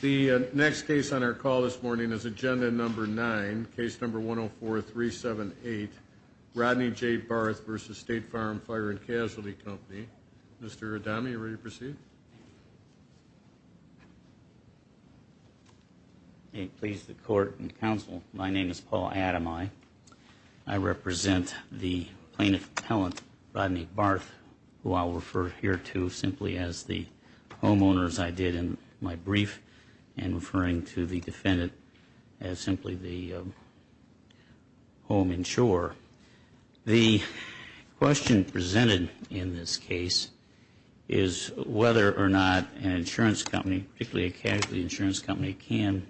The next case on our call this morning is Agenda Number 9, Case Number 104-378, Rodney J. Barth v. State Farm Fire and Casualty Company. Mr. Adami, are you ready to proceed? May it please the Court and Counsel, my name is Paul Adami. I represent the Plaintiff Appellant, Rodney Barth, who I will refer here to simply as the homeowners I did in my brief and referring to the defendant as simply the home insurer. The question presented in this case is whether or not an insurance company, particularly a casualty insurance company, can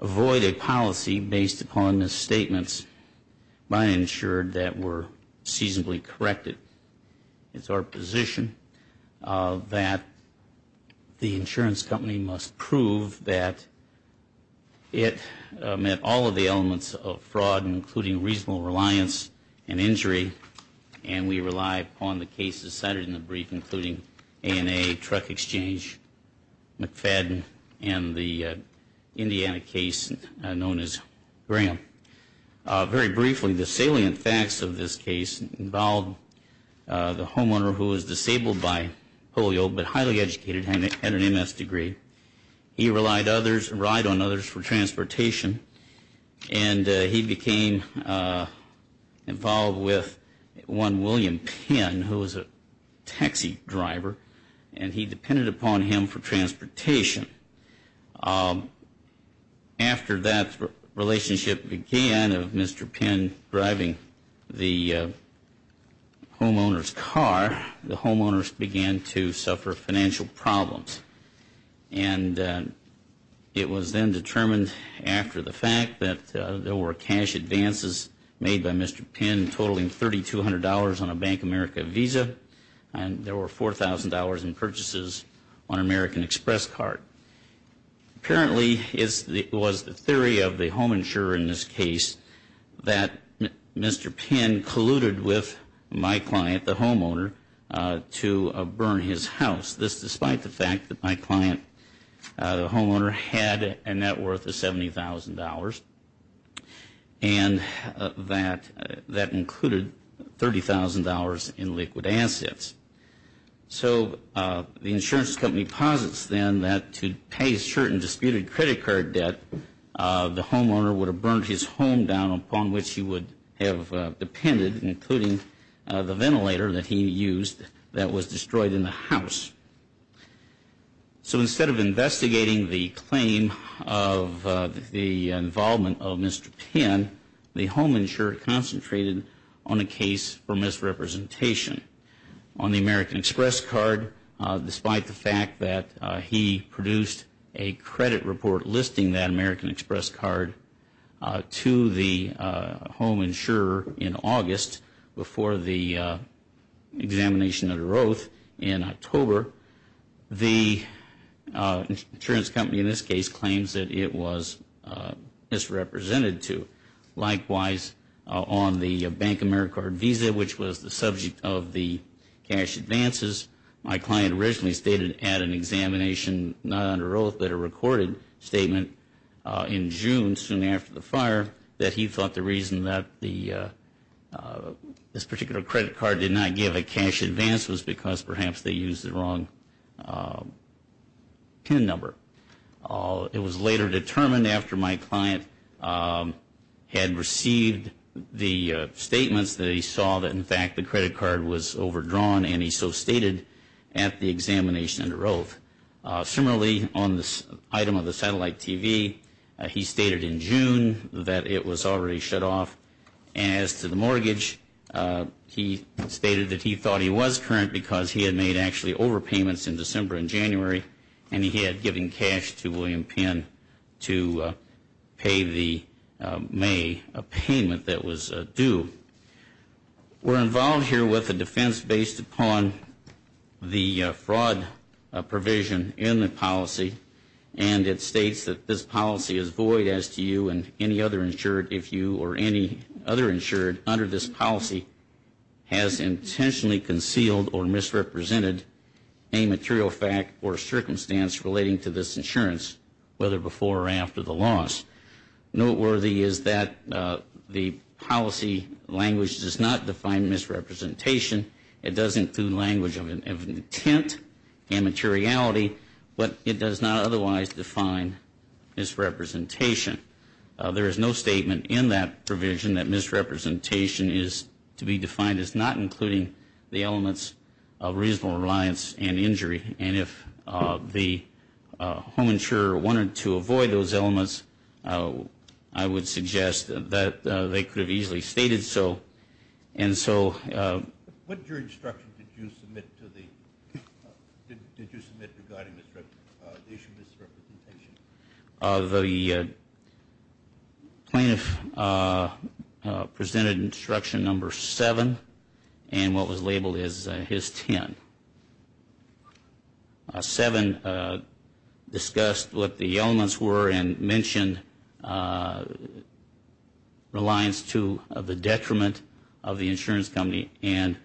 avoid a policy based upon misstatements by an insured that were seasonably corrected. It is our position that the insurance company must prove that it met all of the elements of fraud, including reasonable reliance and injury, and we rely upon the cases cited in the brief, including A&A, Truck Exchange, McFadden, and the Indiana case known as Graham. Very briefly, the salient facts of this case involved the homeowner who was disabled by polio but highly educated and had an M.S. degree. He relied on others for transportation and he became involved with one William Penn, who was a taxi driver, and he depended upon him for transportation. After that relationship began of Mr. Penn driving the homeowner's car, the homeowners began to suffer financial problems, and it was then determined after the fact that there were cash advances made by Mr. Penn totaling $3,200 on a Bank of America Visa and there were $4,000 in purchases on an American Express card. Apparently, it was the theory of the home insurer in this case that Mr. Penn colluded with my client, the homeowner, to burn his house, despite the fact that my client, the homeowner, had a net worth of $70,000 and that included $30,000 in liquid assets. So the insurance company posits then that to pay his shirt and disputed credit card debt, the homeowner would have burned his home down, upon which he would have depended, including the ventilator that he used that was destroyed in the house. So instead of investigating the claim of the involvement of Mr. Penn, the home insurer concentrated on a case for misrepresentation on the American Express card, despite the fact that he produced a credit report listing that American Express card to the home insurer in August before the examination under oath in October. The insurance company in this case claims that it was misrepresented to. It was later determined after my client had received the statements that he saw that, in fact, the credit card was overdrawn and he so stated at the examination under oath. Similarly, on this item of the satellite TV, he stated in June that it was already shut off. As to the mortgage, he stated that he thought he was current because he had made actually overpayments in December and January and he had given cash to William Penn to pay the May payment that was due. We're involved here with a defense based upon the fraud provision in the policy and it states that this policy is void as to you and any other insured if you or any other insured under this policy has intentionally concealed or misrepresented a material fact or circumstance relating to this insurance, whether before or after the loss. Noteworthy is that the policy language does not define misrepresentation. It does include language of intent and materiality, but it does not otherwise define misrepresentation. There is no statement in that provision that misrepresentation is to be defined as not including the elements of reasonable reliance and injury. And if the home insurer wanted to avoid those elements, I would suggest that they could have easily stated so. And so what your instruction did you submit to the did you submit regarding this issue misrepresentation of the plaintiff presented instruction number seven and what was labeled as his 10. Number seven discussed what the elements were and mentioned reliance to the detriment of the insurance company and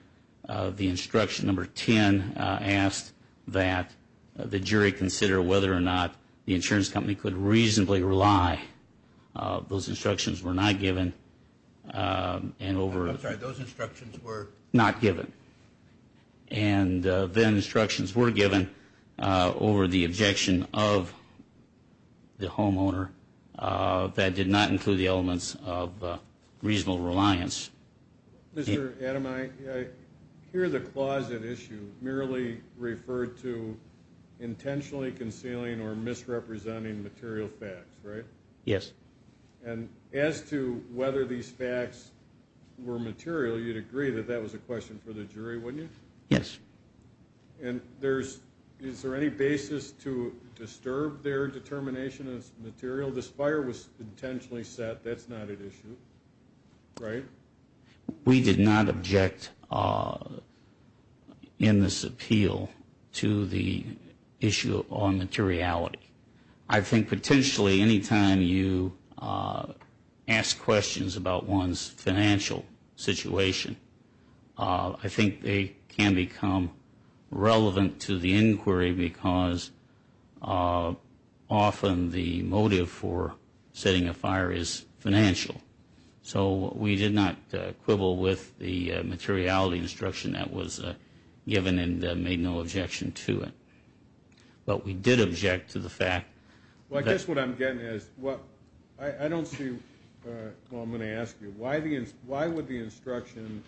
the instruction number 10 asked that the jury consider whether or not the insurance company could reasonably rely. Those instructions were not given and over. I'm sorry, those instructions were. Not given. And then instructions were given over the objection of the homeowner that did not include the elements of reasonable reliance. Mr. Adam, I hear the closet issue merely referred to intentionally concealing or misrepresenting material facts, right? Yes. And as to whether these facts were material, you'd agree that that was a question for the jury, wouldn't you? Yes. And there's is there any basis to disturb their determination of material? This fire was intentionally set. That's not an issue. Right. We did not object in this appeal to the issue on materiality. I think potentially any time you ask questions about one's financial situation, I think they can become relevant to the inquiry because often the motive for setting a fire is financial. So we did not quibble with the materiality instruction that was given and made no objection to it. But we did object to the fact. Well, I guess what I'm getting at is, well, I don't see, well, I'm going to ask you, why would the instruction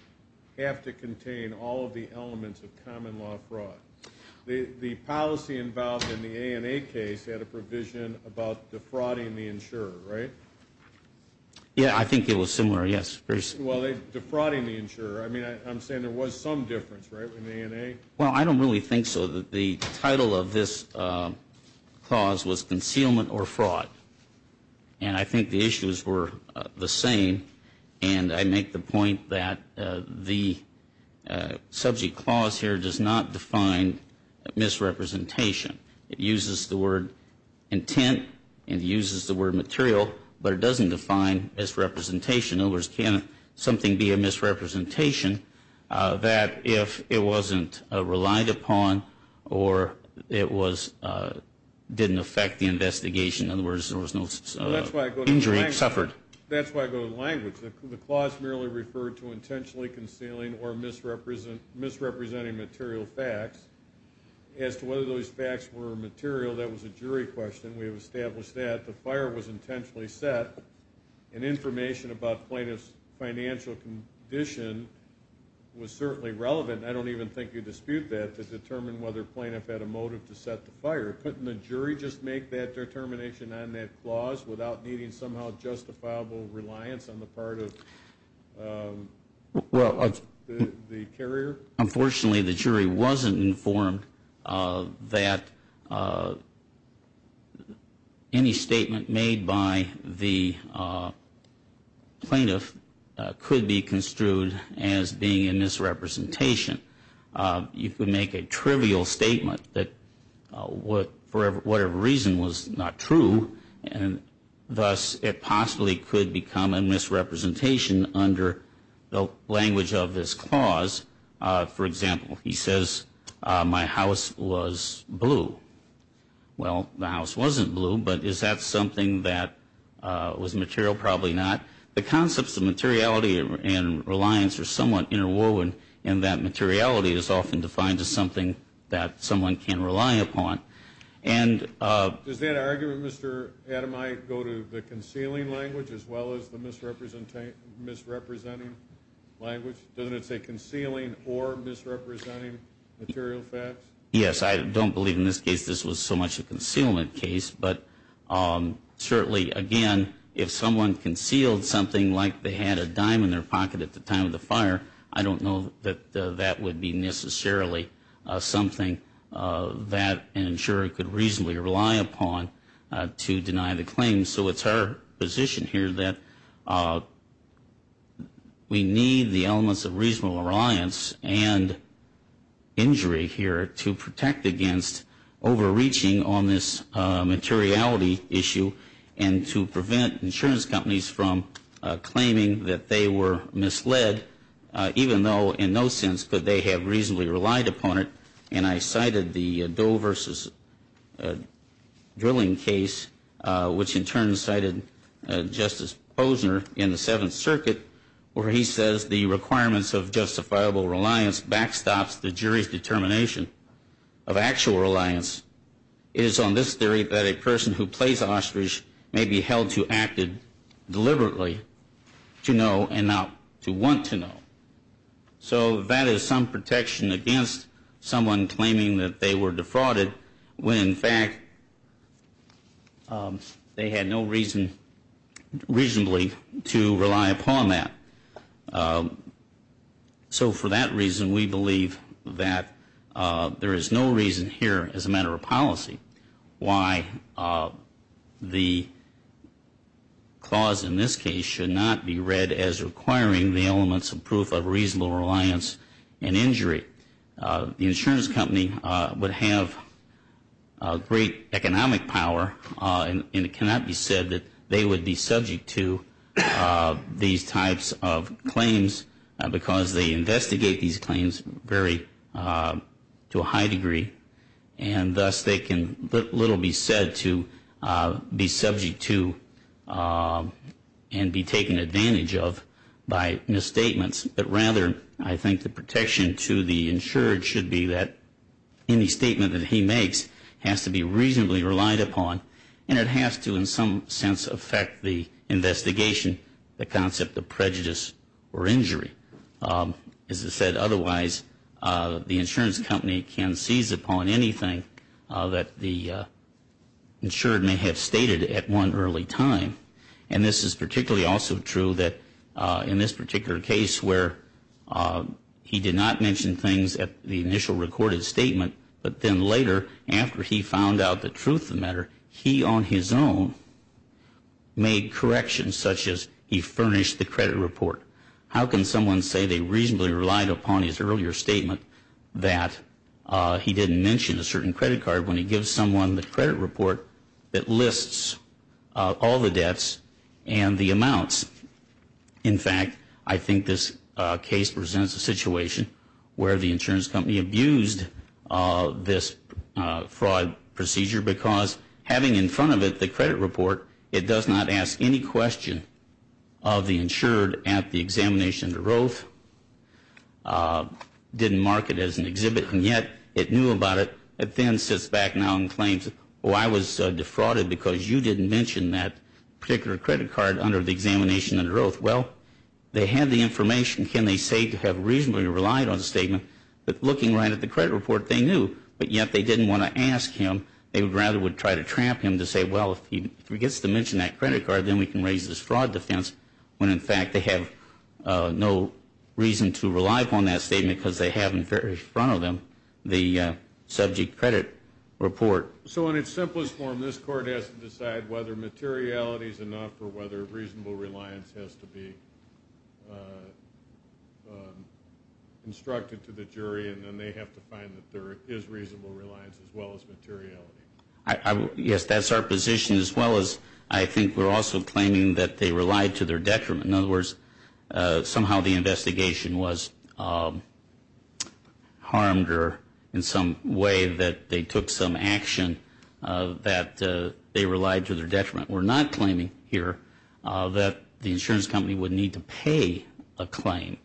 have to contain all of the elements of common law fraud? The policy involved in the ANA case had a provision about defrauding the insurer, right? Yeah, I think it was similar, yes. Well, defrauding the insurer, I mean, I'm saying there was some difference, right, in the ANA? Well, I don't really think so. The title of this clause was concealment or fraud. And I think the issues were the same. And I make the point that the subject clause here does not define misrepresentation. It uses the word intent. It uses the word material. But it doesn't define misrepresentation. In other words, can something be a misrepresentation that if it wasn't relied upon or it didn't affect the investigation, in other words, there was no injury suffered? That's why I go to language. The clause merely referred to intentionally concealing or misrepresenting material facts. As to whether those facts were material, that was a jury question. We have established that. The fire was intentionally set. And information about plaintiff's financial condition was certainly relevant. I don't even think you dispute that to determine whether a plaintiff had a motive to set the fire. Couldn't the jury just make that determination on that clause without needing somehow justifiable reliance on the part of the carrier? Unfortunately, the jury wasn't informed that any statement made by the plaintiff could be construed as being a misrepresentation. You could make a trivial statement that for whatever reason was not true, and thus it possibly could become a misrepresentation under the language of this clause. For example, he says, my house was blue. Well, the house wasn't blue, but is that something that was material? Probably not. The concepts of materiality and reliance are somewhat interwoven, and that materiality is often defined as something that someone can rely upon. Does that argument, Mr. Adami, go to the concealing language as well as the misrepresenting language? Doesn't it say concealing or misrepresenting material facts? Yes. I don't believe in this case this was so much a concealment case. But certainly, again, if someone concealed something like they had a dime in their pocket at the time of the fire, I don't know that that would be necessarily something that an insurer could reasonably rely upon to deny the claim. So it's our position here that we need the elements of reasonable reliance and injury here to protect against overreaching on this materiality issue and to prevent insurance companies from claiming that they were misled, even though in no sense could they have reasonably relied upon it. And I cited the Doe versus Drilling case, which in turn cited Justice Posner in the Seventh Circuit, where he says the requirements of justifiable reliance backstops the jury's determination of actual reliance. It is on this theory that a person who plays ostrich may be held to act deliberately to know and not to want to know. So that is some protection against someone claiming that they were defrauded when, in fact, they had no reason reasonably to rely upon that. So for that reason, we believe that there is no reason here as a matter of policy why the clause in this case should not be read as requiring the elements of proof of reasonable reliance and injury. The insurance company would have great economic power, and it cannot be said that they would be subject to these types of claims, because they investigate these claims to a high degree, and thus they can little be said to be subject to and be taken advantage of by misstatements. But rather, I think the protection to the insured should be that any statement that he makes has to be reasonably relied upon, and it has to in some sense affect the investigation, the concept of prejudice or injury. As I said, otherwise, the insurance company can seize upon anything that the insured may have stated at one early time. And this is particularly also true that in this particular case where he did not mention things at the initial recorded statement, but then later after he found out the truth of the matter, he on his own made corrections such as he furnished the credit report. How can someone say they reasonably relied upon his earlier statement that he didn't mention a certain credit card when he gives someone the credit report that lists all the debts and the amounts? In fact, I think this case presents a situation where the insurance company abused this fraud procedure, because having in front of it the credit report, it does not ask any question of the insured at the examination to Roath, didn't mark it as an exhibit, and yet it knew about it. It then sits back now and claims, oh, I was defrauded because you didn't mention that particular credit card under the examination under Roath. Well, they had the information, can they say to have reasonably relied on the statement, but looking right at the credit report, they knew, but yet they didn't want to ask him. They rather would try to trap him to say, well, if he forgets to mention that credit card, then we can raise this fraud defense, when in fact they have no reason to rely upon that statement because they have in front of them the subject credit report. So in its simplest form, this court has to decide whether materiality is enough or whether reasonable reliance has to be instructed to the jury, and then they have to find that there is reasonable reliance as well as materiality. Yes, that's our position as well as I think we're also claiming that they relied to their detriment. In other words, somehow the investigation was harmed or in some way that they took some action that they relied to their detriment. We're not claiming here that the insurance company would need to pay a claim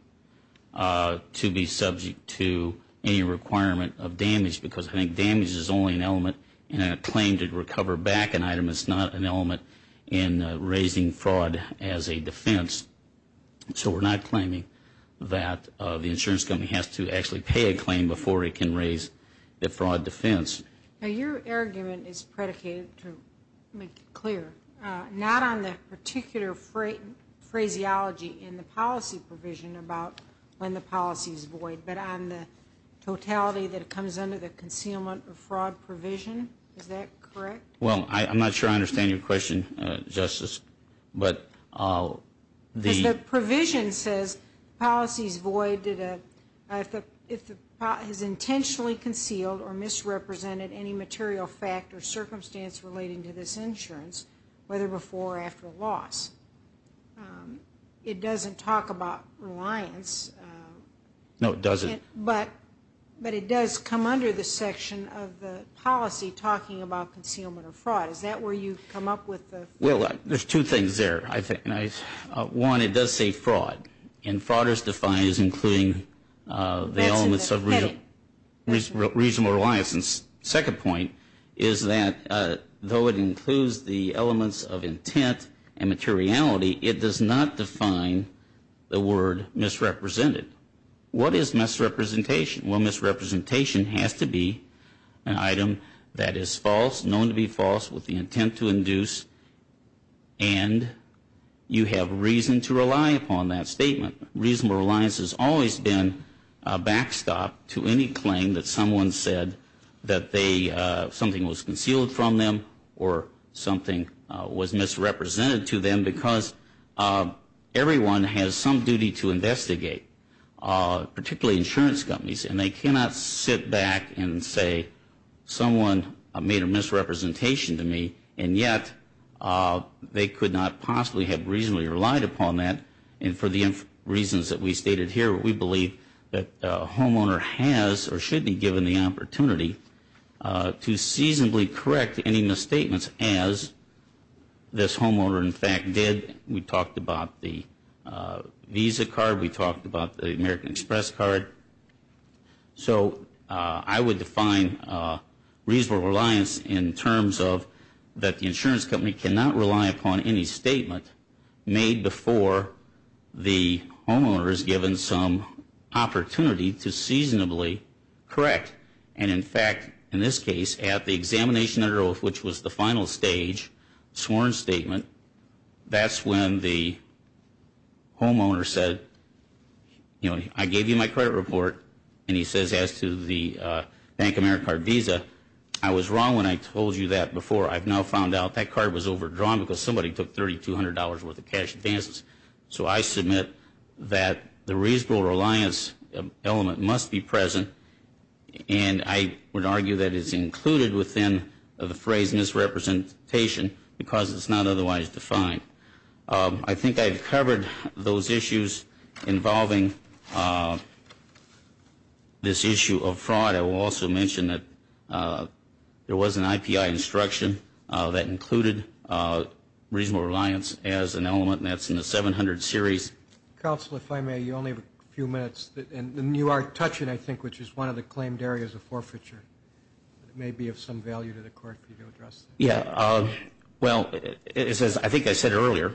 to be subject to any requirement of damage because I think damage is only an element in a claim to recover back an item. It's not an element in raising fraud as a defense. So we're not claiming that the insurance company has to actually pay a claim before it can raise the fraud defense. Now, your argument is predicated, to make it clear, not on the particular phraseology in the policy provision about when the policy is void, but on the totality that comes under the concealment or fraud provision. Is that correct? Well, I'm not sure I understand your question, Justice. The provision says policy is void if the policy is intentionally concealed or misrepresented any material fact or circumstance relating to this insurance, whether before or after a loss. It doesn't talk about reliance. No, it doesn't. But it does come under the section of the policy talking about concealment or fraud. Is that where you come up with the? Well, there's two things there, I think. One, it does say fraud, and fraud is defined as including the elements of reasonable reliance. The second point is that though it includes the elements of intent and materiality, it does not define the word misrepresented. What is misrepresentation? Well, misrepresentation has to be an item that is false, known to be false, with the intent to induce, and you have reason to rely upon that statement. I think reasonable reliance has always been a backstop to any claim that someone said that they, something was concealed from them or something was misrepresented to them because everyone has some duty to investigate, particularly insurance companies, and they cannot sit back and say someone made a misrepresentation to me, and yet they could not possibly have reasonably relied upon that, and for the reasons that we stated here, we believe that a homeowner has or should be given the opportunity to seasonably correct any misstatements, as this homeowner, in fact, did. We talked about the Visa card. We talked about the American Express card. So I would define reasonable reliance in terms of that the insurance company cannot rely upon any statement made before the homeowner is given some opportunity to seasonably correct, and in fact, in this case, at the examination, which was the final stage, sworn statement, that's when the homeowner said, you know, I gave you my credit report, and he says as to the Bank of America Visa, I was wrong when I told you that before. I've now found out that card was overdrawn because somebody took $3,200 worth of cash advances. So I submit that the reasonable reliance element must be present, and I would argue that it's included within the phrase misrepresentation because it's not otherwise defined. I think I've covered those issues involving this issue of fraud. I will also mention that there was an IPI instruction that included reasonable reliance as an element, and that's in the 700 series. Counsel, if I may, you only have a few minutes, and you are touching, I think, which is one of the claimed areas of forfeiture. It may be of some value to the court for you to address that. Yeah. Well, as I think I said earlier,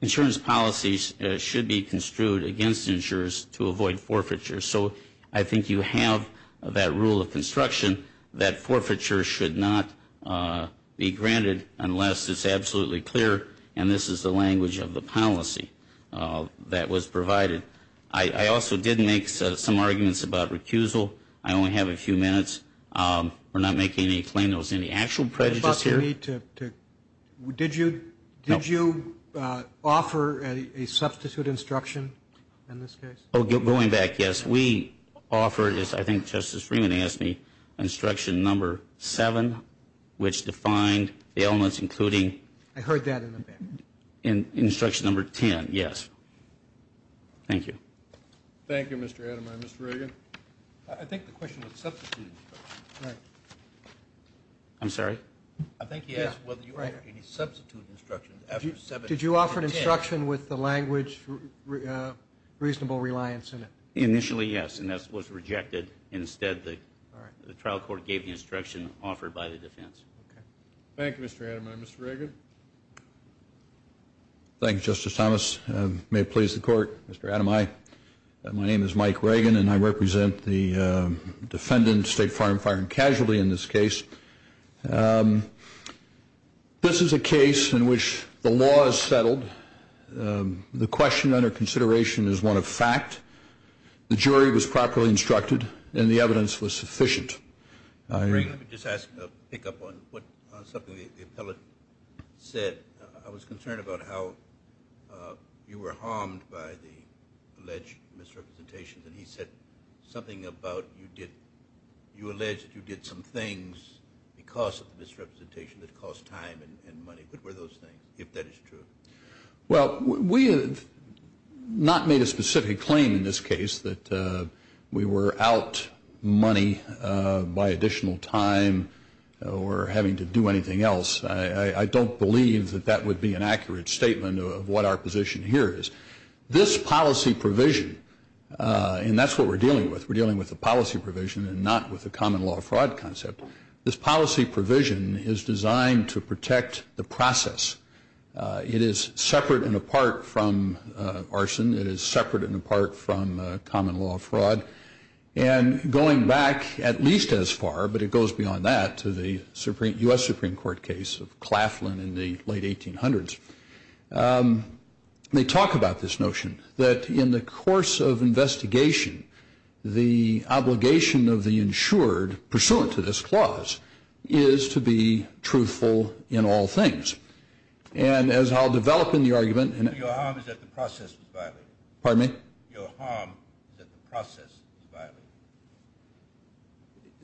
insurance policies should be construed against insurers to avoid forfeiture. So I think you have that rule of construction that forfeiture should not be granted unless it's absolutely clear, and this is the language of the policy that was provided. I also did make some arguments about recusal. I only have a few minutes. We're not making any claim there was any actual prejudice here. Did you offer a substitute instruction in this case? Oh, going back, yes. We offered, as I think Justice Freeman asked me, instruction number seven, which defined the elements including... I heard that in the back. Instruction number 10, yes. Thank you. Thank you, Mr. Ademeyer. Mr. Reagan? I think the question was substitute instruction. Right. I'm sorry? I think he asked whether you offered any substitute instruction after seven or 10... Did you offer instruction with the language reasonable reliance in it? Initially, yes, and that was rejected. Instead, the trial court gave the instruction offered by the defense. Okay. Thank you, Mr. Ademeyer. Mr. Reagan? Thank you, Justice Thomas. May it please the court, Mr. Ademeyer. Hi. My name is Mike Reagan, and I represent the defendant, State Fire and Casualty, in this case. This is a case in which the law is settled. The question under consideration is one of fact. The jury was properly instructed, and the evidence was sufficient. Mr. Reagan, let me just pick up on something the appellate said. I was concerned about how you were harmed by the alleged misrepresentations, and he said something about you alleged you did some things because of the misrepresentation that cost time and money. What were those things, if that is true? Well, we have not made a specific claim in this case that we were out money by additional time or having to do anything else. I don't believe that that would be an accurate statement of what our position here is. This policy provision, and that's what we're dealing with. We're dealing with a policy provision and not with a common law fraud concept. This policy provision is designed to protect the process. It is separate and apart from arson. It is separate and apart from common law fraud. And going back at least as far, but it goes beyond that, to the U.S. Supreme Court case of Claflin in the late 1800s. They talk about this notion that in the course of investigation, the obligation of the insured pursuant to this clause is to be truthful in all things. And as I'll develop in the argument. Your harm is that the process was violated. Pardon me? Your harm is that the process was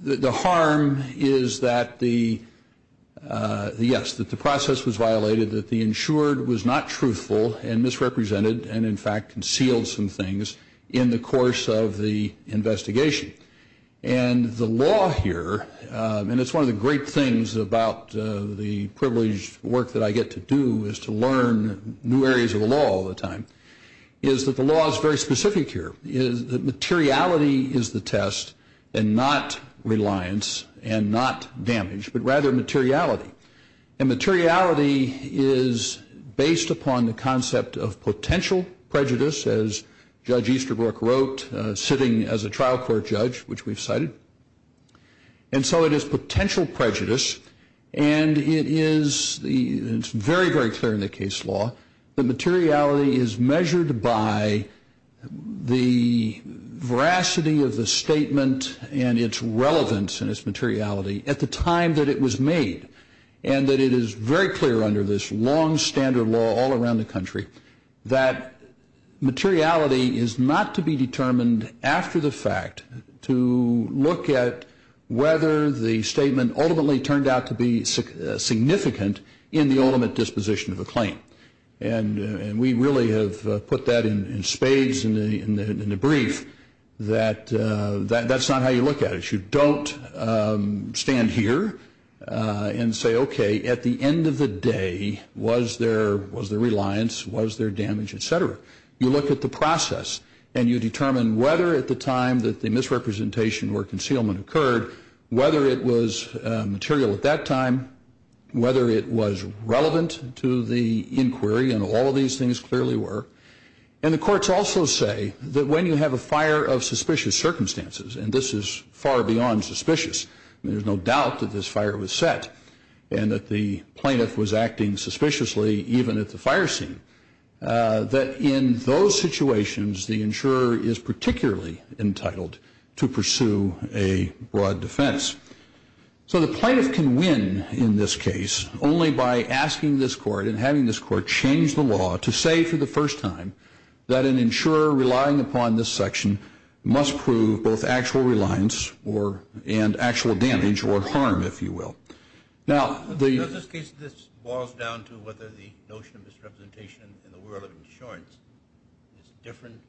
violated. The harm is that the, yes, that the process was violated, that the insured was not truthful and misrepresented and in fact concealed some things in the course of the investigation. And the law here, and it's one of the great things about the privileged work that I get to do, is to learn new areas of the law all the time, is that the law is very specific here. The materiality is the test and not reliance and not damage, but rather materiality. And materiality is based upon the concept of potential prejudice, as Judge Easterbrook wrote, sitting as a trial court judge, which we've cited. And so it is potential prejudice. And it is very, very clear in the case law that materiality is measured by the veracity of the statement and its relevance and its materiality at the time that it was made. And that it is very clear under this long standard law all around the country that materiality is not to be determined after the fact to look at whether the statement ultimately turned out to be significant in the ultimate disposition of a claim. And we really have put that in spades in the brief that that's not how you look at it. You don't stand here and say, okay, at the end of the day, was there reliance, was there damage, et cetera. You look at the process and you determine whether at the time that the misrepresentation or concealment occurred, whether it was material at that time, whether it was relevant to the inquiry, and all of these things clearly were. And the courts also say that when you have a fire of suspicious circumstances, and this is far beyond suspicious, there's no doubt that this fire was set and that the plaintiff was acting suspiciously even at the fire scene, that in those situations the insurer is particularly entitled to pursue a broad defense. So the plaintiff can win in this case only by asking this court and having this court change the law to say for the first time that an insurer relying upon this section must prove both actual reliance and actual damage or harm, if you will. In this case, this boils down to whether the notion of misrepresentation in the world of insurance is different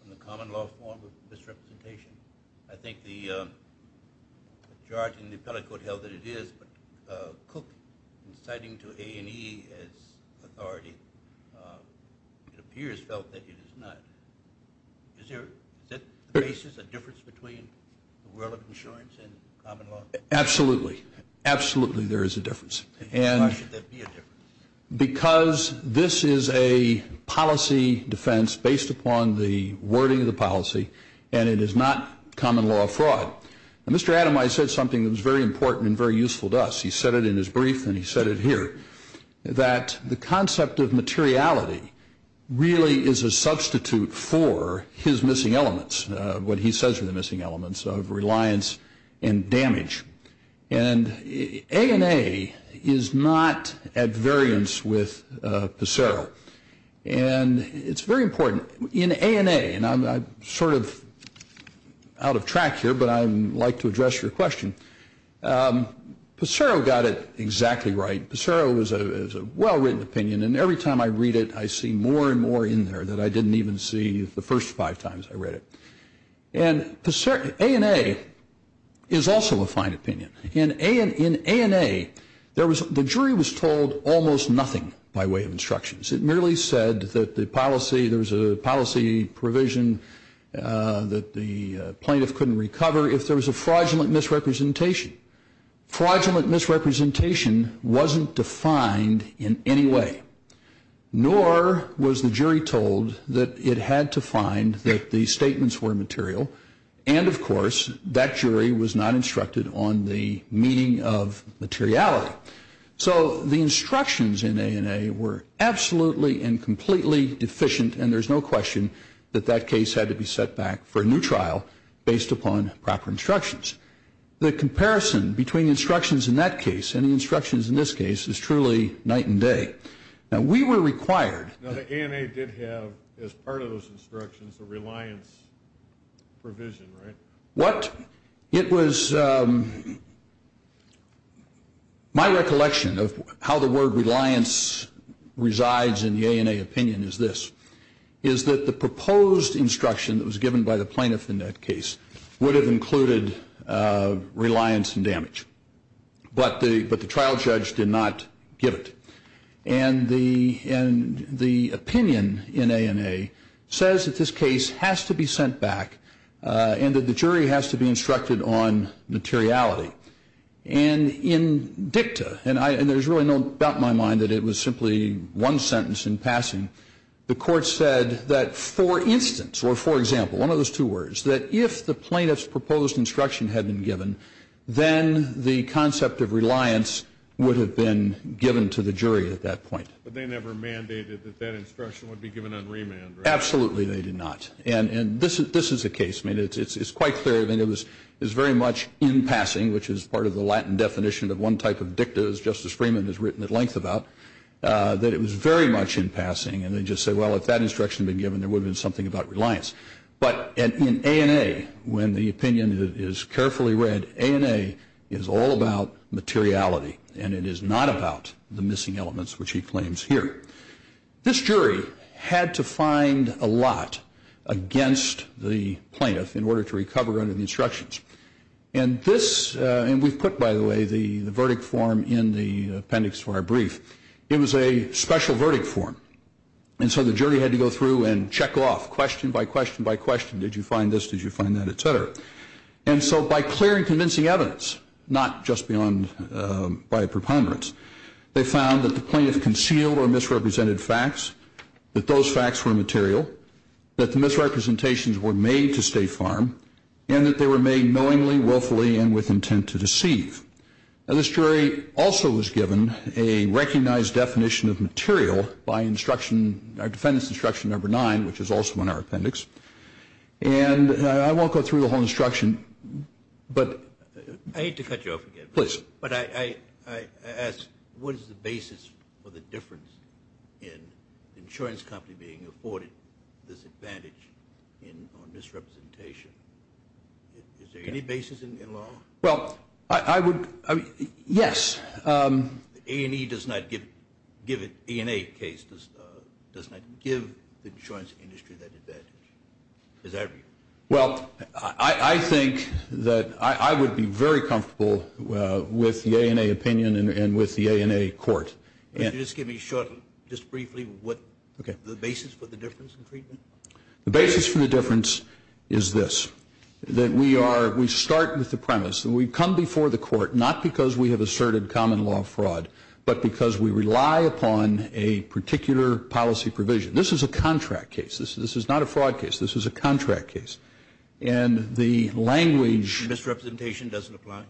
from the common law form of misrepresentation. I think the charge in the appellate court held that it is, but Cook, in citing to A&E as authority, it appears felt that it is not. Is that the basis, the difference between the world of insurance and common law? Absolutely. Absolutely there is a difference. And why should there be a difference? Because this is a policy defense based upon the wording of the policy, and it is not common law fraud. Now, Mr. Ademeyer said something that was very important and very useful to us. He said it in his brief and he said it here, that the concept of materiality really is a substitute for his missing elements, what he says are the missing elements of reliance and damage. And A&A is not at variance with Pissarro. And it's very important. In A&A, and I'm sort of out of track here, but I'd like to address your question, Pissarro got it exactly right. Pissarro is a well-written opinion, and every time I read it, I see more and more in there that I didn't even see the first five times I read it. And A&A is also a fine opinion. In A&A, the jury was told almost nothing by way of instructions. It merely said that the policy, there was a policy provision that the plaintiff couldn't recover if there was a fraudulent misrepresentation. Fraudulent misrepresentation wasn't defined in any way. Nor was the jury told that it had to find that the statements were material. And, of course, that jury was not instructed on the meaning of materiality. So the instructions in A&A were absolutely and completely deficient, and there's no question that that case had to be set back for a new trial based upon proper instructions. The comparison between instructions in that case and the instructions in this case is truly night and day. Now, we were required. Now, the A&A did have, as part of those instructions, a reliance provision, right? What it was, my recollection of how the word reliance resides in the A&A opinion is this, is that the proposed instruction that was given by the plaintiff in that case would have included reliance and damage. But the trial judge did not give it. And the opinion in A&A says that this case has to be sent back and that the jury has to be instructed on materiality. And in dicta, and there's really no doubt in my mind that it was simply one sentence in passing, the court said that, for instance, or for example, one of those two words, that if the plaintiff's proposed instruction had been given, then the concept of reliance would have been given to the jury at that point. But they never mandated that that instruction would be given on remand, right? Absolutely they did not. And this is the case. I mean, it's quite clear. I mean, it was very much in passing, which is part of the Latin definition of one type of dicta, as Justice Freeman has written at length about, that it was very much in passing. And they just say, well, if that instruction had been given, there would have been something about reliance. But in A&A, when the opinion is carefully read, A&A is all about materiality, and it is not about the missing elements, which he claims here. This jury had to find a lot against the plaintiff in order to recover under the instructions. And this, and we've put, by the way, the verdict form in the appendix for our brief. It was a special verdict form. And so the jury had to go through and check off question by question by question. Did you find this? Did you find that? Et cetera. And so by clear and convincing evidence, not just by preponderance, they found that the plaintiff concealed or misrepresented facts, that those facts were material, that the misrepresentations were made to stay firm, and that they were made knowingly, willfully, and with intent to deceive. Now, this jury also was given a recognized definition of material by instruction, our defendant's instruction number nine, which is also in our appendix. And I won't go through the whole instruction, but. I hate to cut you off again. Please. But I ask, what is the basis for the difference in an insurance company being afforded this advantage on misrepresentation? Is there any basis in law? Well, I would. Yes. A&E does not give the insurance industry that advantage. Well, I think that I would be very comfortable with the A&A opinion and with the A&A court. Could you just give me a short, just briefly, what the basis for the difference in treatment? The basis for the difference is this. That we are, we start with the premise that we've come before the court, not because we have asserted common law fraud, but because we rely upon a particular policy provision. This is a contract case. This is not a fraud case. This is a contract case. And the language. Misrepresentation doesn't apply?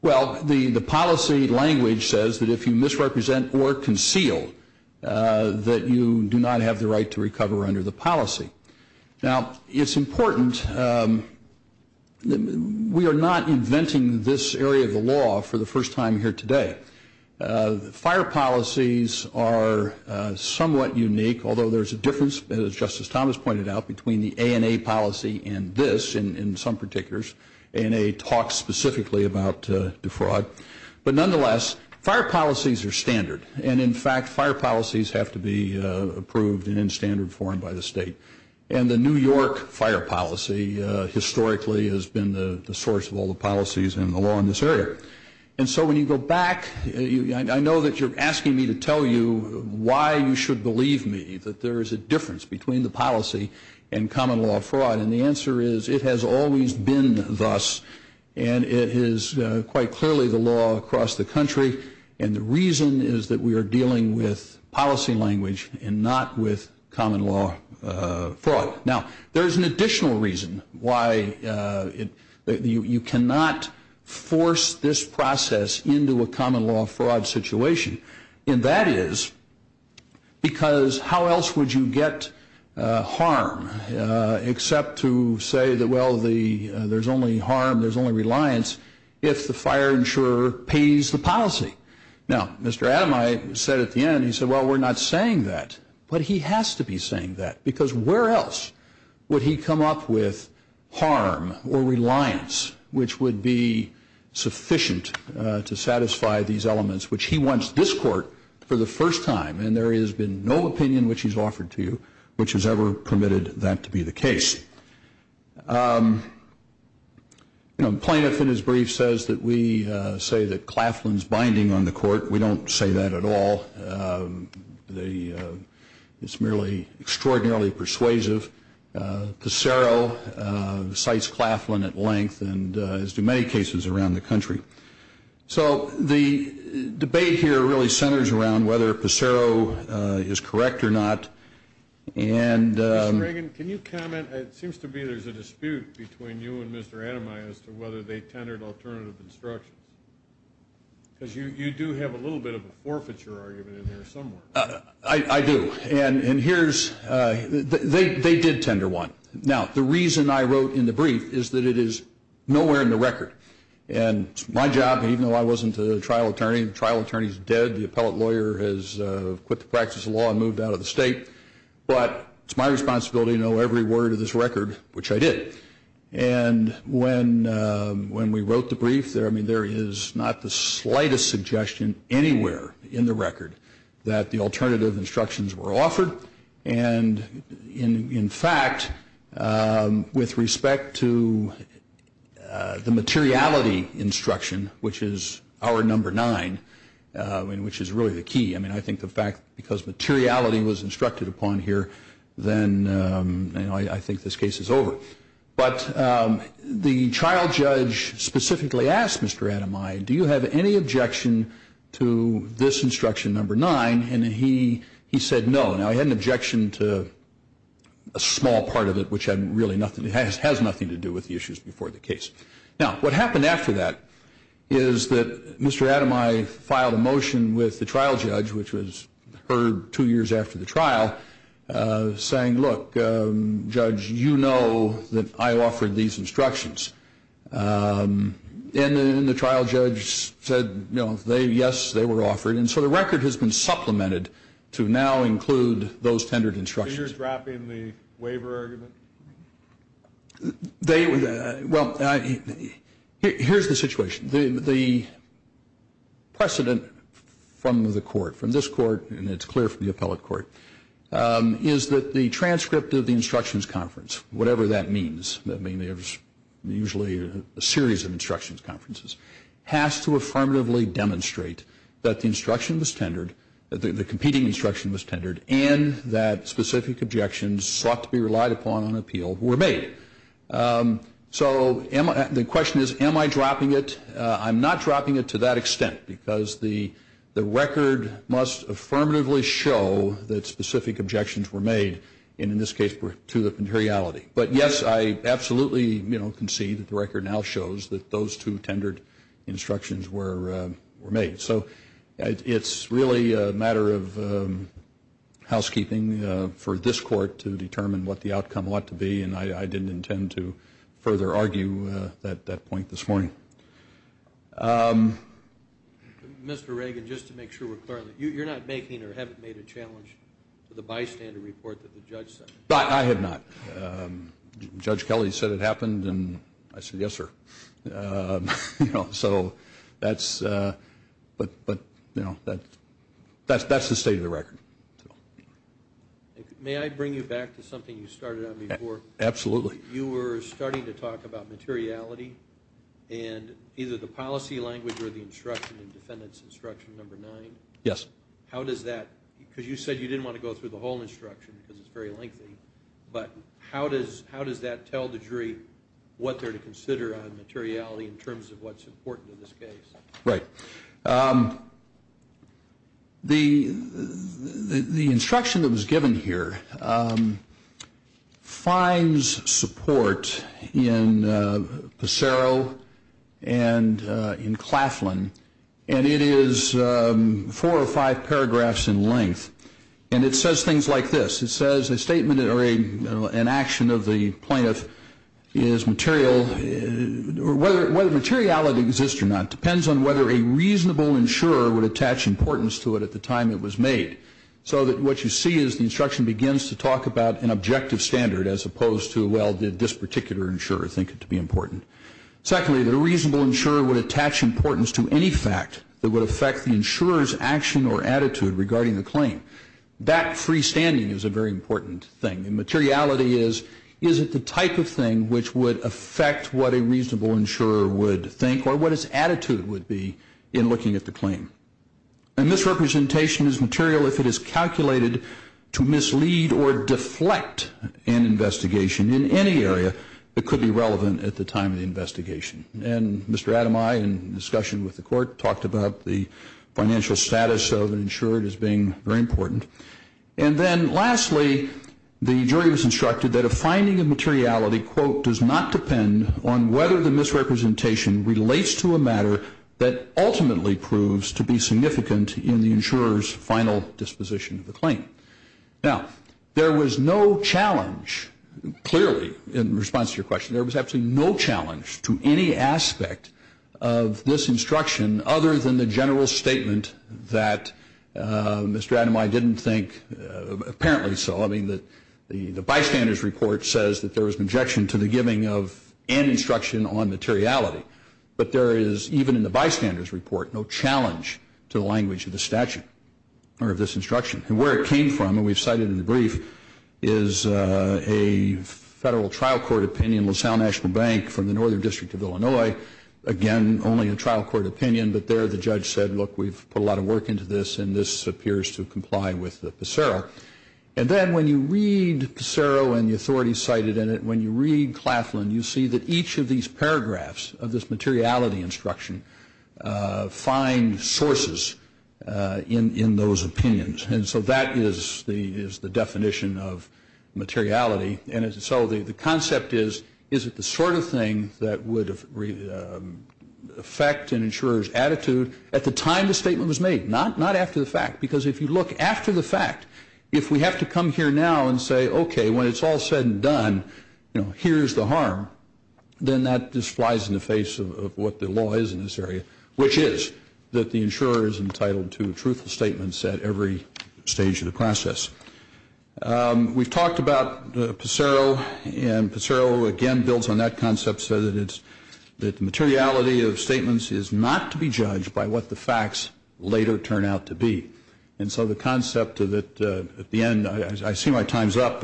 Well, the policy language says that if you misrepresent or conceal, that you do not have the right to recover under the policy. Now, it's important, we are not inventing this area of the law for the first time here today. Fire policies are somewhat unique, although there's a difference, as Justice Thomas pointed out, between the A&A policy and this, in some particulars. A&A talks specifically about defraud. But nonetheless, fire policies are standard. And, in fact, fire policies have to be approved and in standard form by the state. And the New York fire policy, historically, has been the source of all the policies in the law in this area. And so when you go back, I know that you're asking me to tell you why you should believe me, that there is a difference between the policy and common law fraud. And the answer is, it has always been thus. And it is quite clearly the law across the country. And the reason is that we are dealing with policy language and not with common law fraud. Now, there is an additional reason why you cannot force this process into a common law fraud situation. And that is because how else would you get harm except to say that, well, there's only harm, there's only reliance, if the fire insurer pays the policy? Now, Mr. Adamai said at the end, he said, well, we're not saying that. But he has to be saying that. Because where else would he come up with harm or reliance which would be sufficient to satisfy these elements, which he wants this court for the first time. And there has been no opinion which he's offered to you which has ever permitted that to be the case. Plaintiff in his brief says that we say that Claflin's binding on the court. We don't say that at all. It's merely extraordinarily persuasive. Pissarro cites Claflin at length, as do many cases around the country. So the debate here really centers around whether Pissarro is correct or not. Mr. Reagan, can you comment? It seems to me there's a dispute between you and Mr. Adamai as to whether they tendered alternative instructions. Because you do have a little bit of a forfeiture argument in there somewhere. I do. And here's they did tender one. Now, the reason I wrote in the brief is that it is nowhere in the record. And it's my job, even though I wasn't a trial attorney, the trial attorney's dead, the appellate lawyer has quit the practice of law and moved out of the state. But it's my responsibility to know every word of this record, which I did. And when we wrote the brief, I mean, there is not the slightest suggestion anywhere in the record that the alternative instructions were offered. And, in fact, with respect to the materiality instruction, which is our number nine, which is really the key, I mean, I think the fact because materiality was instructed upon here, then I think this case is over. But the trial judge specifically asked Mr. Adamai, do you have any objection to this instruction number nine? And he said no. Now, he had an objection to a small part of it, which has nothing to do with the issues before the case. Now, what happened after that is that Mr. Adamai filed a motion with the trial judge, which was heard two years after the trial, saying, look, judge, you know that I offered these instructions. And the trial judge said, yes, they were offered. And so the record has been supplemented to now include those tendered instructions. So you're dropping the waiver argument? Well, here's the situation. The precedent from the court, from this court, and it's clear from the appellate court, is that the transcript of the instructions conference, whatever that means, I mean, there's usually a series of instructions conferences, has to affirmatively demonstrate that the instruction was tendered, the competing instruction was tendered, and that specific objections sought to be relied upon on appeal were made. So the question is, am I dropping it? I'm not dropping it to that extent, because the record must affirmatively show that specific objections were made, and in this case were to the materiality. But, yes, I absolutely concede that the record now shows that those two tendered instructions were made. So it's really a matter of housekeeping for this court to determine what the outcome ought to be, and I didn't intend to further argue that point this morning. Mr. Reagan, just to make sure we're clear on that, you're not making or haven't made a challenge to the bystander report that the judge sent? I have not. Judge Kelly said it happened, and I said, yes, sir. So that's the state of the record. May I bring you back to something you started on before? Absolutely. You were starting to talk about materiality, and either the policy language or the instruction in defendant's instruction number nine. Yes. How does that, because you said you didn't want to go through the whole instruction, because it's very lengthy, but how does that tell the jury what they're to consider on materiality in terms of what's important in this case? Right. The instruction that was given here finds support in Passero and in Claflin, and it says things like this. It says a statement or an action of the plaintiff is material, or whether materiality exists or not depends on whether a reasonable insurer would attach importance to it at the time it was made. So what you see is the instruction begins to talk about an objective standard as opposed to, well, did this particular insurer think it to be important. Secondly, the reasonable insurer would attach importance to any fact that would affect the insurer's action or attitude regarding the claim. That freestanding is a very important thing, and materiality is, is it the type of thing which would affect what a reasonable insurer would think or what its attitude would be in looking at the claim. And misrepresentation is material if it is calculated to mislead or deflect an investigation in any area that could be relevant at the time of the investigation. And Mr. Ademaye, in discussion with the court, talked about the financial status of an insurer as being very important. And then lastly, the jury was instructed that a finding of materiality, quote, does not depend on whether the misrepresentation relates to a matter that ultimately proves to be significant in the insurer's final disposition of the claim. Now, there was no challenge, clearly, in response to your question, there was absolutely no challenge to any aspect of this instruction other than the general statement that Mr. Ademaye didn't think apparently so. I mean, the bystander's report says that there was an objection to the giving of an instruction on materiality. But there is, even in the bystander's report, no challenge to the language of the statute, or of this instruction. And where it came from, and we've cited in the brief, is a federal trial court opinion, LaSalle National Bank from the Northern District of Illinois. Again, only a trial court opinion, but there the judge said, look, we've put a lot of work into this, and this appears to comply with the PECERO. And then when you read PECERO and the authority cited in it, when you read Claflin, you see that each of these paragraphs of this materiality instruction find sources in those opinions. And so that is the definition of materiality. And so the concept is, is it the sort of thing that would affect an insurer's attitude at the time the statement was made, not after the fact? Because if you look after the fact, if we have to come here now and say, okay, when it's all said and done, here's the harm, then that just flies in the face of what the law is in this area, which is that the insurer is entitled to truthful statements at every stage of the process. We've talked about PECERO, and PECERO, again, builds on that concept so that it's, that the materiality of statements is not to be judged by what the facts later turn out to be. And so the concept of it, at the end, I see my time's up.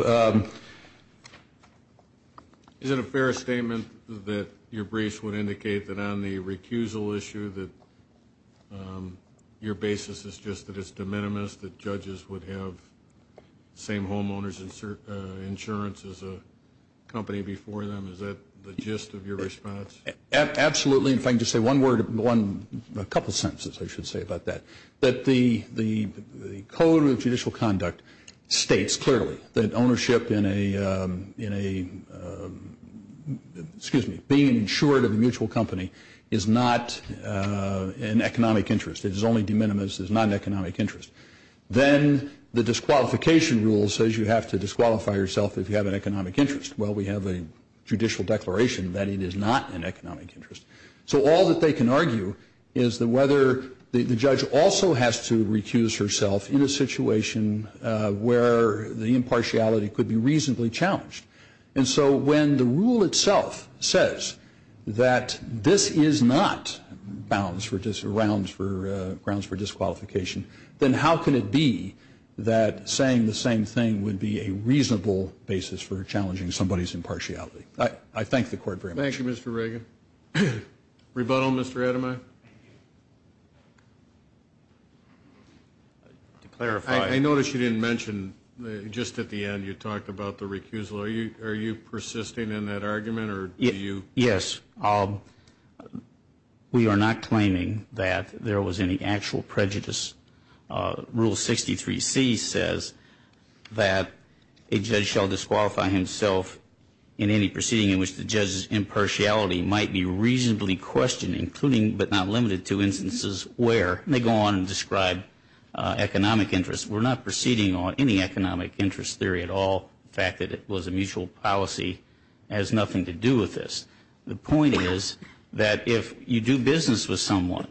Is it a fair statement that your briefs would indicate that on the recusal issue that your basis is just that it's de minimis, that judges would have the same homeowner's insurance as a company before them? Is that the gist of your response? Absolutely. If I can just say one word, a couple sentences I should say about that. The Code of Judicial Conduct states clearly that ownership in a, excuse me, being insured of a mutual company is not an economic interest. It is only de minimis. It is not an economic interest. Then the disqualification rule says you have to disqualify yourself if you have an economic interest. Well, we have a judicial declaration that it is not an economic interest. So all that they can argue is that whether the judge also has to recuse herself in a situation where the impartiality could be reasonably challenged. And so when the rule itself says that this is not grounds for disqualification, then how can it be that saying the same thing would be a reasonable basis for challenging somebody's impartiality? I thank the Court very much. Thank you, Mr. Reagan. Rebuttal, Mr. Ademaye? I notice you didn't mention just at the end you talked about the recusal. Are you persisting in that argument or do you? Yes. We are not claiming that there was any actual prejudice. Rule 63C says that a judge shall disqualify himself in any proceeding in which the judge's impartiality might be reasonably questioned, including but not limited to instances where they go on and describe economic interests. We're not proceeding on any economic interest theory at all. The fact that it was a mutual policy has nothing to do with this. The point is that if you do business with someone,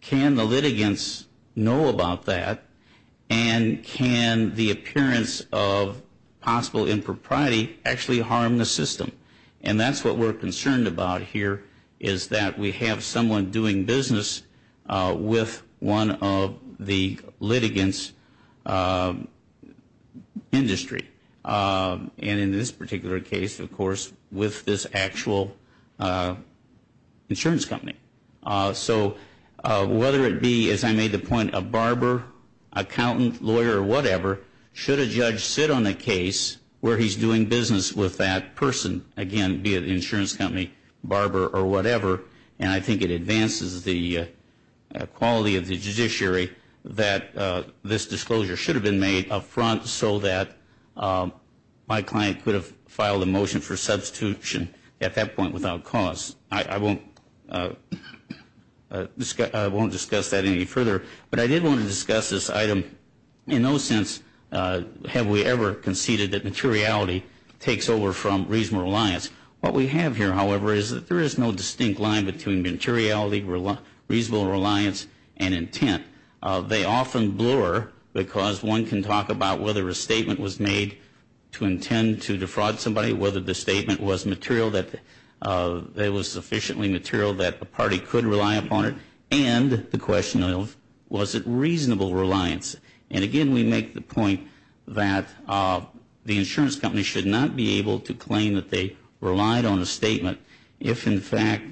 can the litigants know about that and can the appearance of possible impropriety actually harm the system? And that's what we're concerned about here is that we have someone doing business And in this particular case, of course, with this actual insurance company. So whether it be, as I made the point, a barber, accountant, lawyer, or whatever, should a judge sit on a case where he's doing business with that person, again, be it an insurance company, barber, or whatever, and I think it advances the quality of the judiciary that this disclosure should have been made up front so that my client could have filed a motion for substitution at that point without cause. I won't discuss that any further, but I did want to discuss this item. In no sense have we ever conceded that materiality takes over from reasonable reliance. What we have here, however, is that there is no distinct line between materiality, reasonable reliance, and intent. They often blur because one can talk about whether a statement was made to intend to defraud somebody, whether the statement was sufficiently material that a party could rely upon it, and the question of was it reasonable reliance. And again, we make the point that the insurance company should not be able to claim that they relied on a statement if, in fact,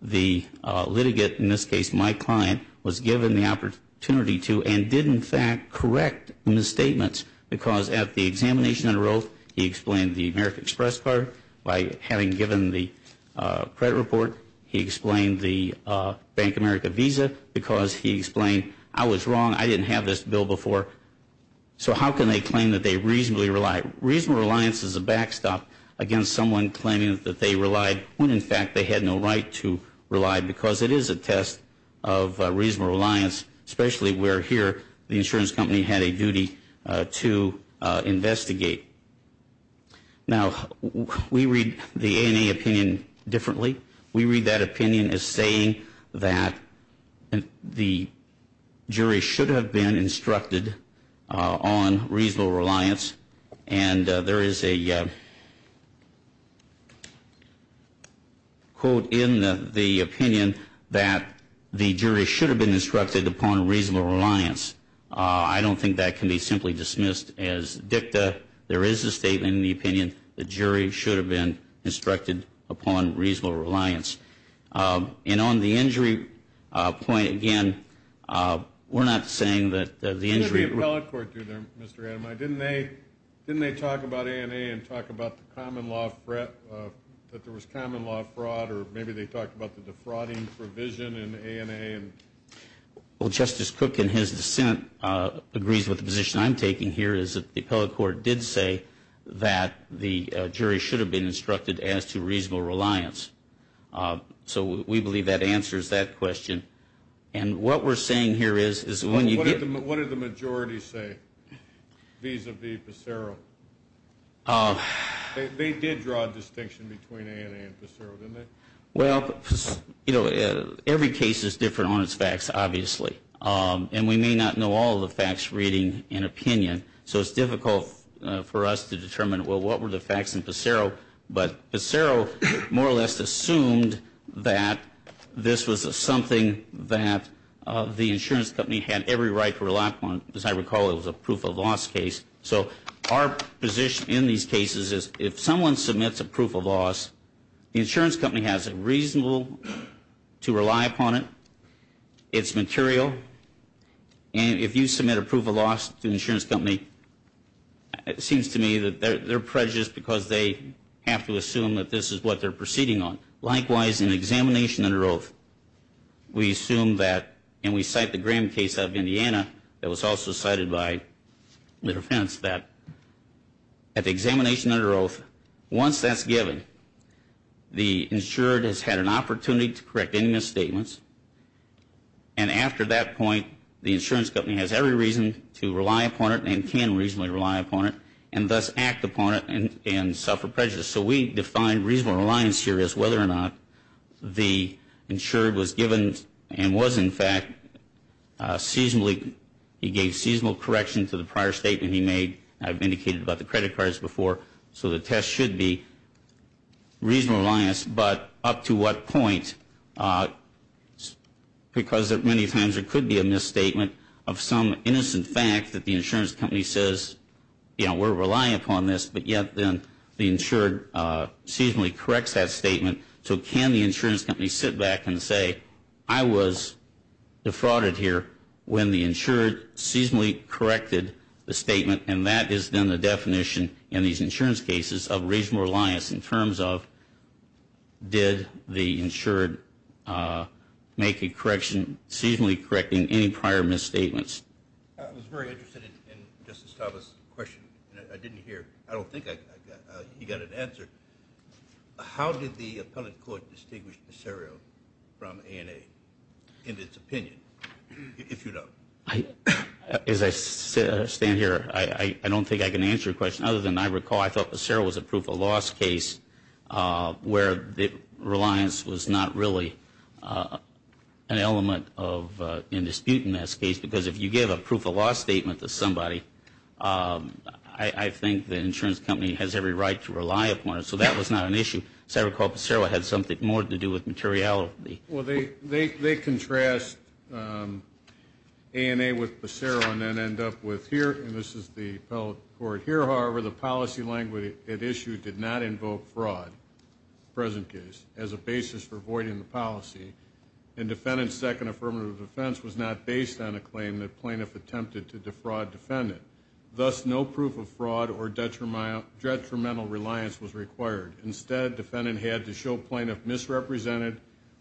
the litigant, in this case my client, was given the opportunity to and did, in fact, correct the misstatements because at the examination and arose, he explained the American Express card by having given the credit report. He explained the Bank of America Visa because he explained I was wrong, I didn't have this bill before. So how can they claim that they reasonably relied? Reasonable reliance is a backstop against someone claiming that they relied when, in fact, they had no right to rely because it is a test of reasonable reliance, especially where here the insurance company had a duty to investigate. Now, we read the ANA opinion differently. We read that opinion as saying that the jury should have been instructed on reasonable reliance, and there is a quote in the opinion that the jury should have been instructed upon reasonable reliance. I don't think that can be simply dismissed as dicta. There is a statement in the opinion the jury should have been instructed upon reasonable reliance. And on the injury point, again, we're not saying that the injury. What did the appellate court do there, Mr. Adamai? Didn't they talk about ANA and talk about the common law threat, that there was common law fraud, or maybe they talked about the defrauding provision in ANA? Well, Justice Cook, in his dissent, agrees with the position I'm taking here, is that the appellate court did say that the jury should have been instructed as to reasonable reliance. So we believe that answers that question. And what we're saying here is when you get- What did the majority say vis-a-vis Pesero? They did draw a distinction between ANA and Pesero, didn't they? Well, you know, every case is different on its facts, obviously. And we may not know all the facts reading an opinion, so it's difficult for us to determine, well, what were the facts in Pesero? But Pesero more or less assumed that this was something that the insurance company had every right to rely upon. As I recall, it was a proof of loss case. So our position in these cases is if someone submits a proof of loss, the insurance company has it reasonable to rely upon it. It's material. And if you submit a proof of loss to the insurance company, it seems to me that they're prejudiced because they have to assume that this is what they're proceeding on. Likewise, in examination under oath, we assume that, and we cite the Graham case out of Indiana, that was also cited by Little Fence, that at the examination under oath, once that's given, the insured has had an opportunity to correct any misstatements. And after that point, the insurance company has every reason to rely upon it and can reasonably rely upon it and thus act upon it and suffer prejudice. So we define reasonable reliance here as whether or not the insured was given and was, in fact, seasonably. He gave seasonal correction to the prior statement he made. I've indicated about the credit cards before. So the test should be reasonable reliance, but up to what point? Because many times there could be a misstatement of some innocent fact that the insurance company says, you know, we're relying upon this, but yet then the insured seasonally corrects that statement. So can the insurance company sit back and say, I was defrauded here when the insured seasonally corrected the statement, and that is then the definition in these insurance cases of reasonable reliance in terms of did the insured make a correction, seasonally correcting any prior misstatements. I was very interested in Justice Stavros' question. I didn't hear, I don't think he got an answer. How did the appellate court distinguish Passero from ANA in its opinion, if you don't? As I stand here, I don't think I can answer your question. Other than I recall, I thought Passero was a proof of loss case where the reliance was not really an element of in dispute in this case, because if you give a proof of loss statement to somebody, I think the insurance company has every right to rely upon it. So that was not an issue. As I recall, Passero had something more to do with materiality. Well, they contrast ANA with Passero and then end up with here, and this is the appellate court here. However, the policy language at issue did not invoke fraud in the present case as a basis for avoiding the policy, and defendant's second affirmative defense was not based on a claim that plaintiff attempted to defraud defendant. Thus, no proof of fraud or detrimental reliance was required. Instead, defendant had to show plaintiff misrepresented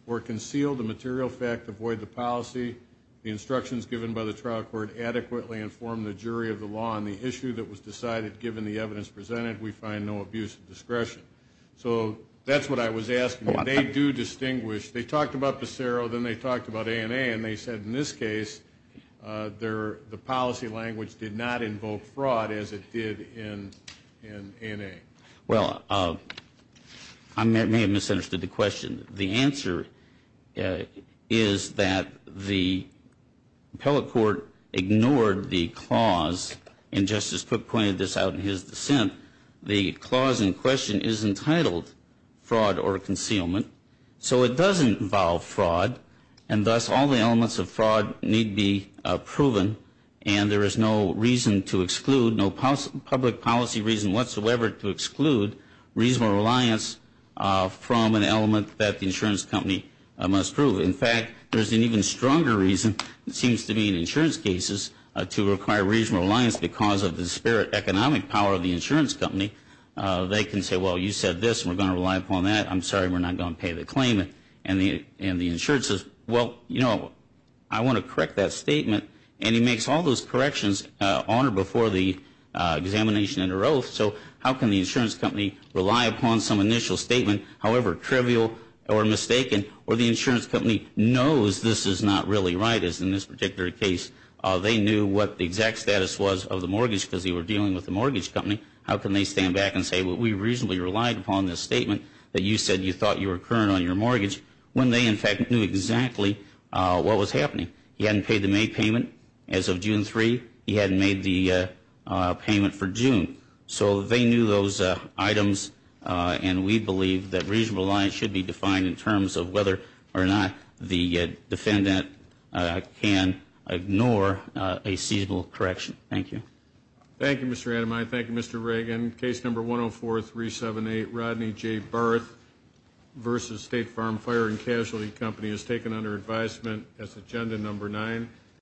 or concealed the material fact to avoid the policy. The instructions given by the trial court adequately informed the jury of the law on the issue that was decided given the evidence presented. We find no abuse of discretion. So that's what I was asking. They do distinguish. They talked about Passero, then they talked about ANA, and they said in this case, the policy language did not invoke fraud as it did in ANA. Well, I may have misunderstood the question. The answer is that the appellate court ignored the clause, and Justice Cook pointed this out in his dissent. The clause in question is entitled fraud or concealment. So it does involve fraud, and thus all the elements of fraud need be proven, and there is no reason to exclude, no public policy reason whatsoever to exclude reasonable reliance from an element that the insurance company must prove. In fact, there's an even stronger reason, it seems to me, in insurance cases, to require reasonable reliance because of the spirit economic power of the insurance company. They can say, well, you said this, and we're going to rely upon that. I'm sorry, we're not going to pay the claim. And the insurance says, well, you know, I want to correct that statement, and he makes all those corrections on or before the examination under oath. So how can the insurance company rely upon some initial statement, however trivial or mistaken, where the insurance company knows this is not really right, as in this particular case, they knew what the exact status was of the mortgage because they were dealing with the mortgage company. How can they stand back and say, well, we reasonably relied upon this statement that you said you thought you were current on your mortgage, when they, in fact, knew exactly what was happening. He hadn't paid the May payment as of June 3. He hadn't made the payment for June. So they knew those items, and we believe that reasonable reliance should be defined in terms of whether or not the defendant can ignore a seasonal correction. Thank you. Thank you, Mr. Ademaye. Thank you, Mr. Reagan. Case number 104-378, Rodney J. Barth v. State Farm Fire and Casualty Company, is taken under advisement as agenda number nine.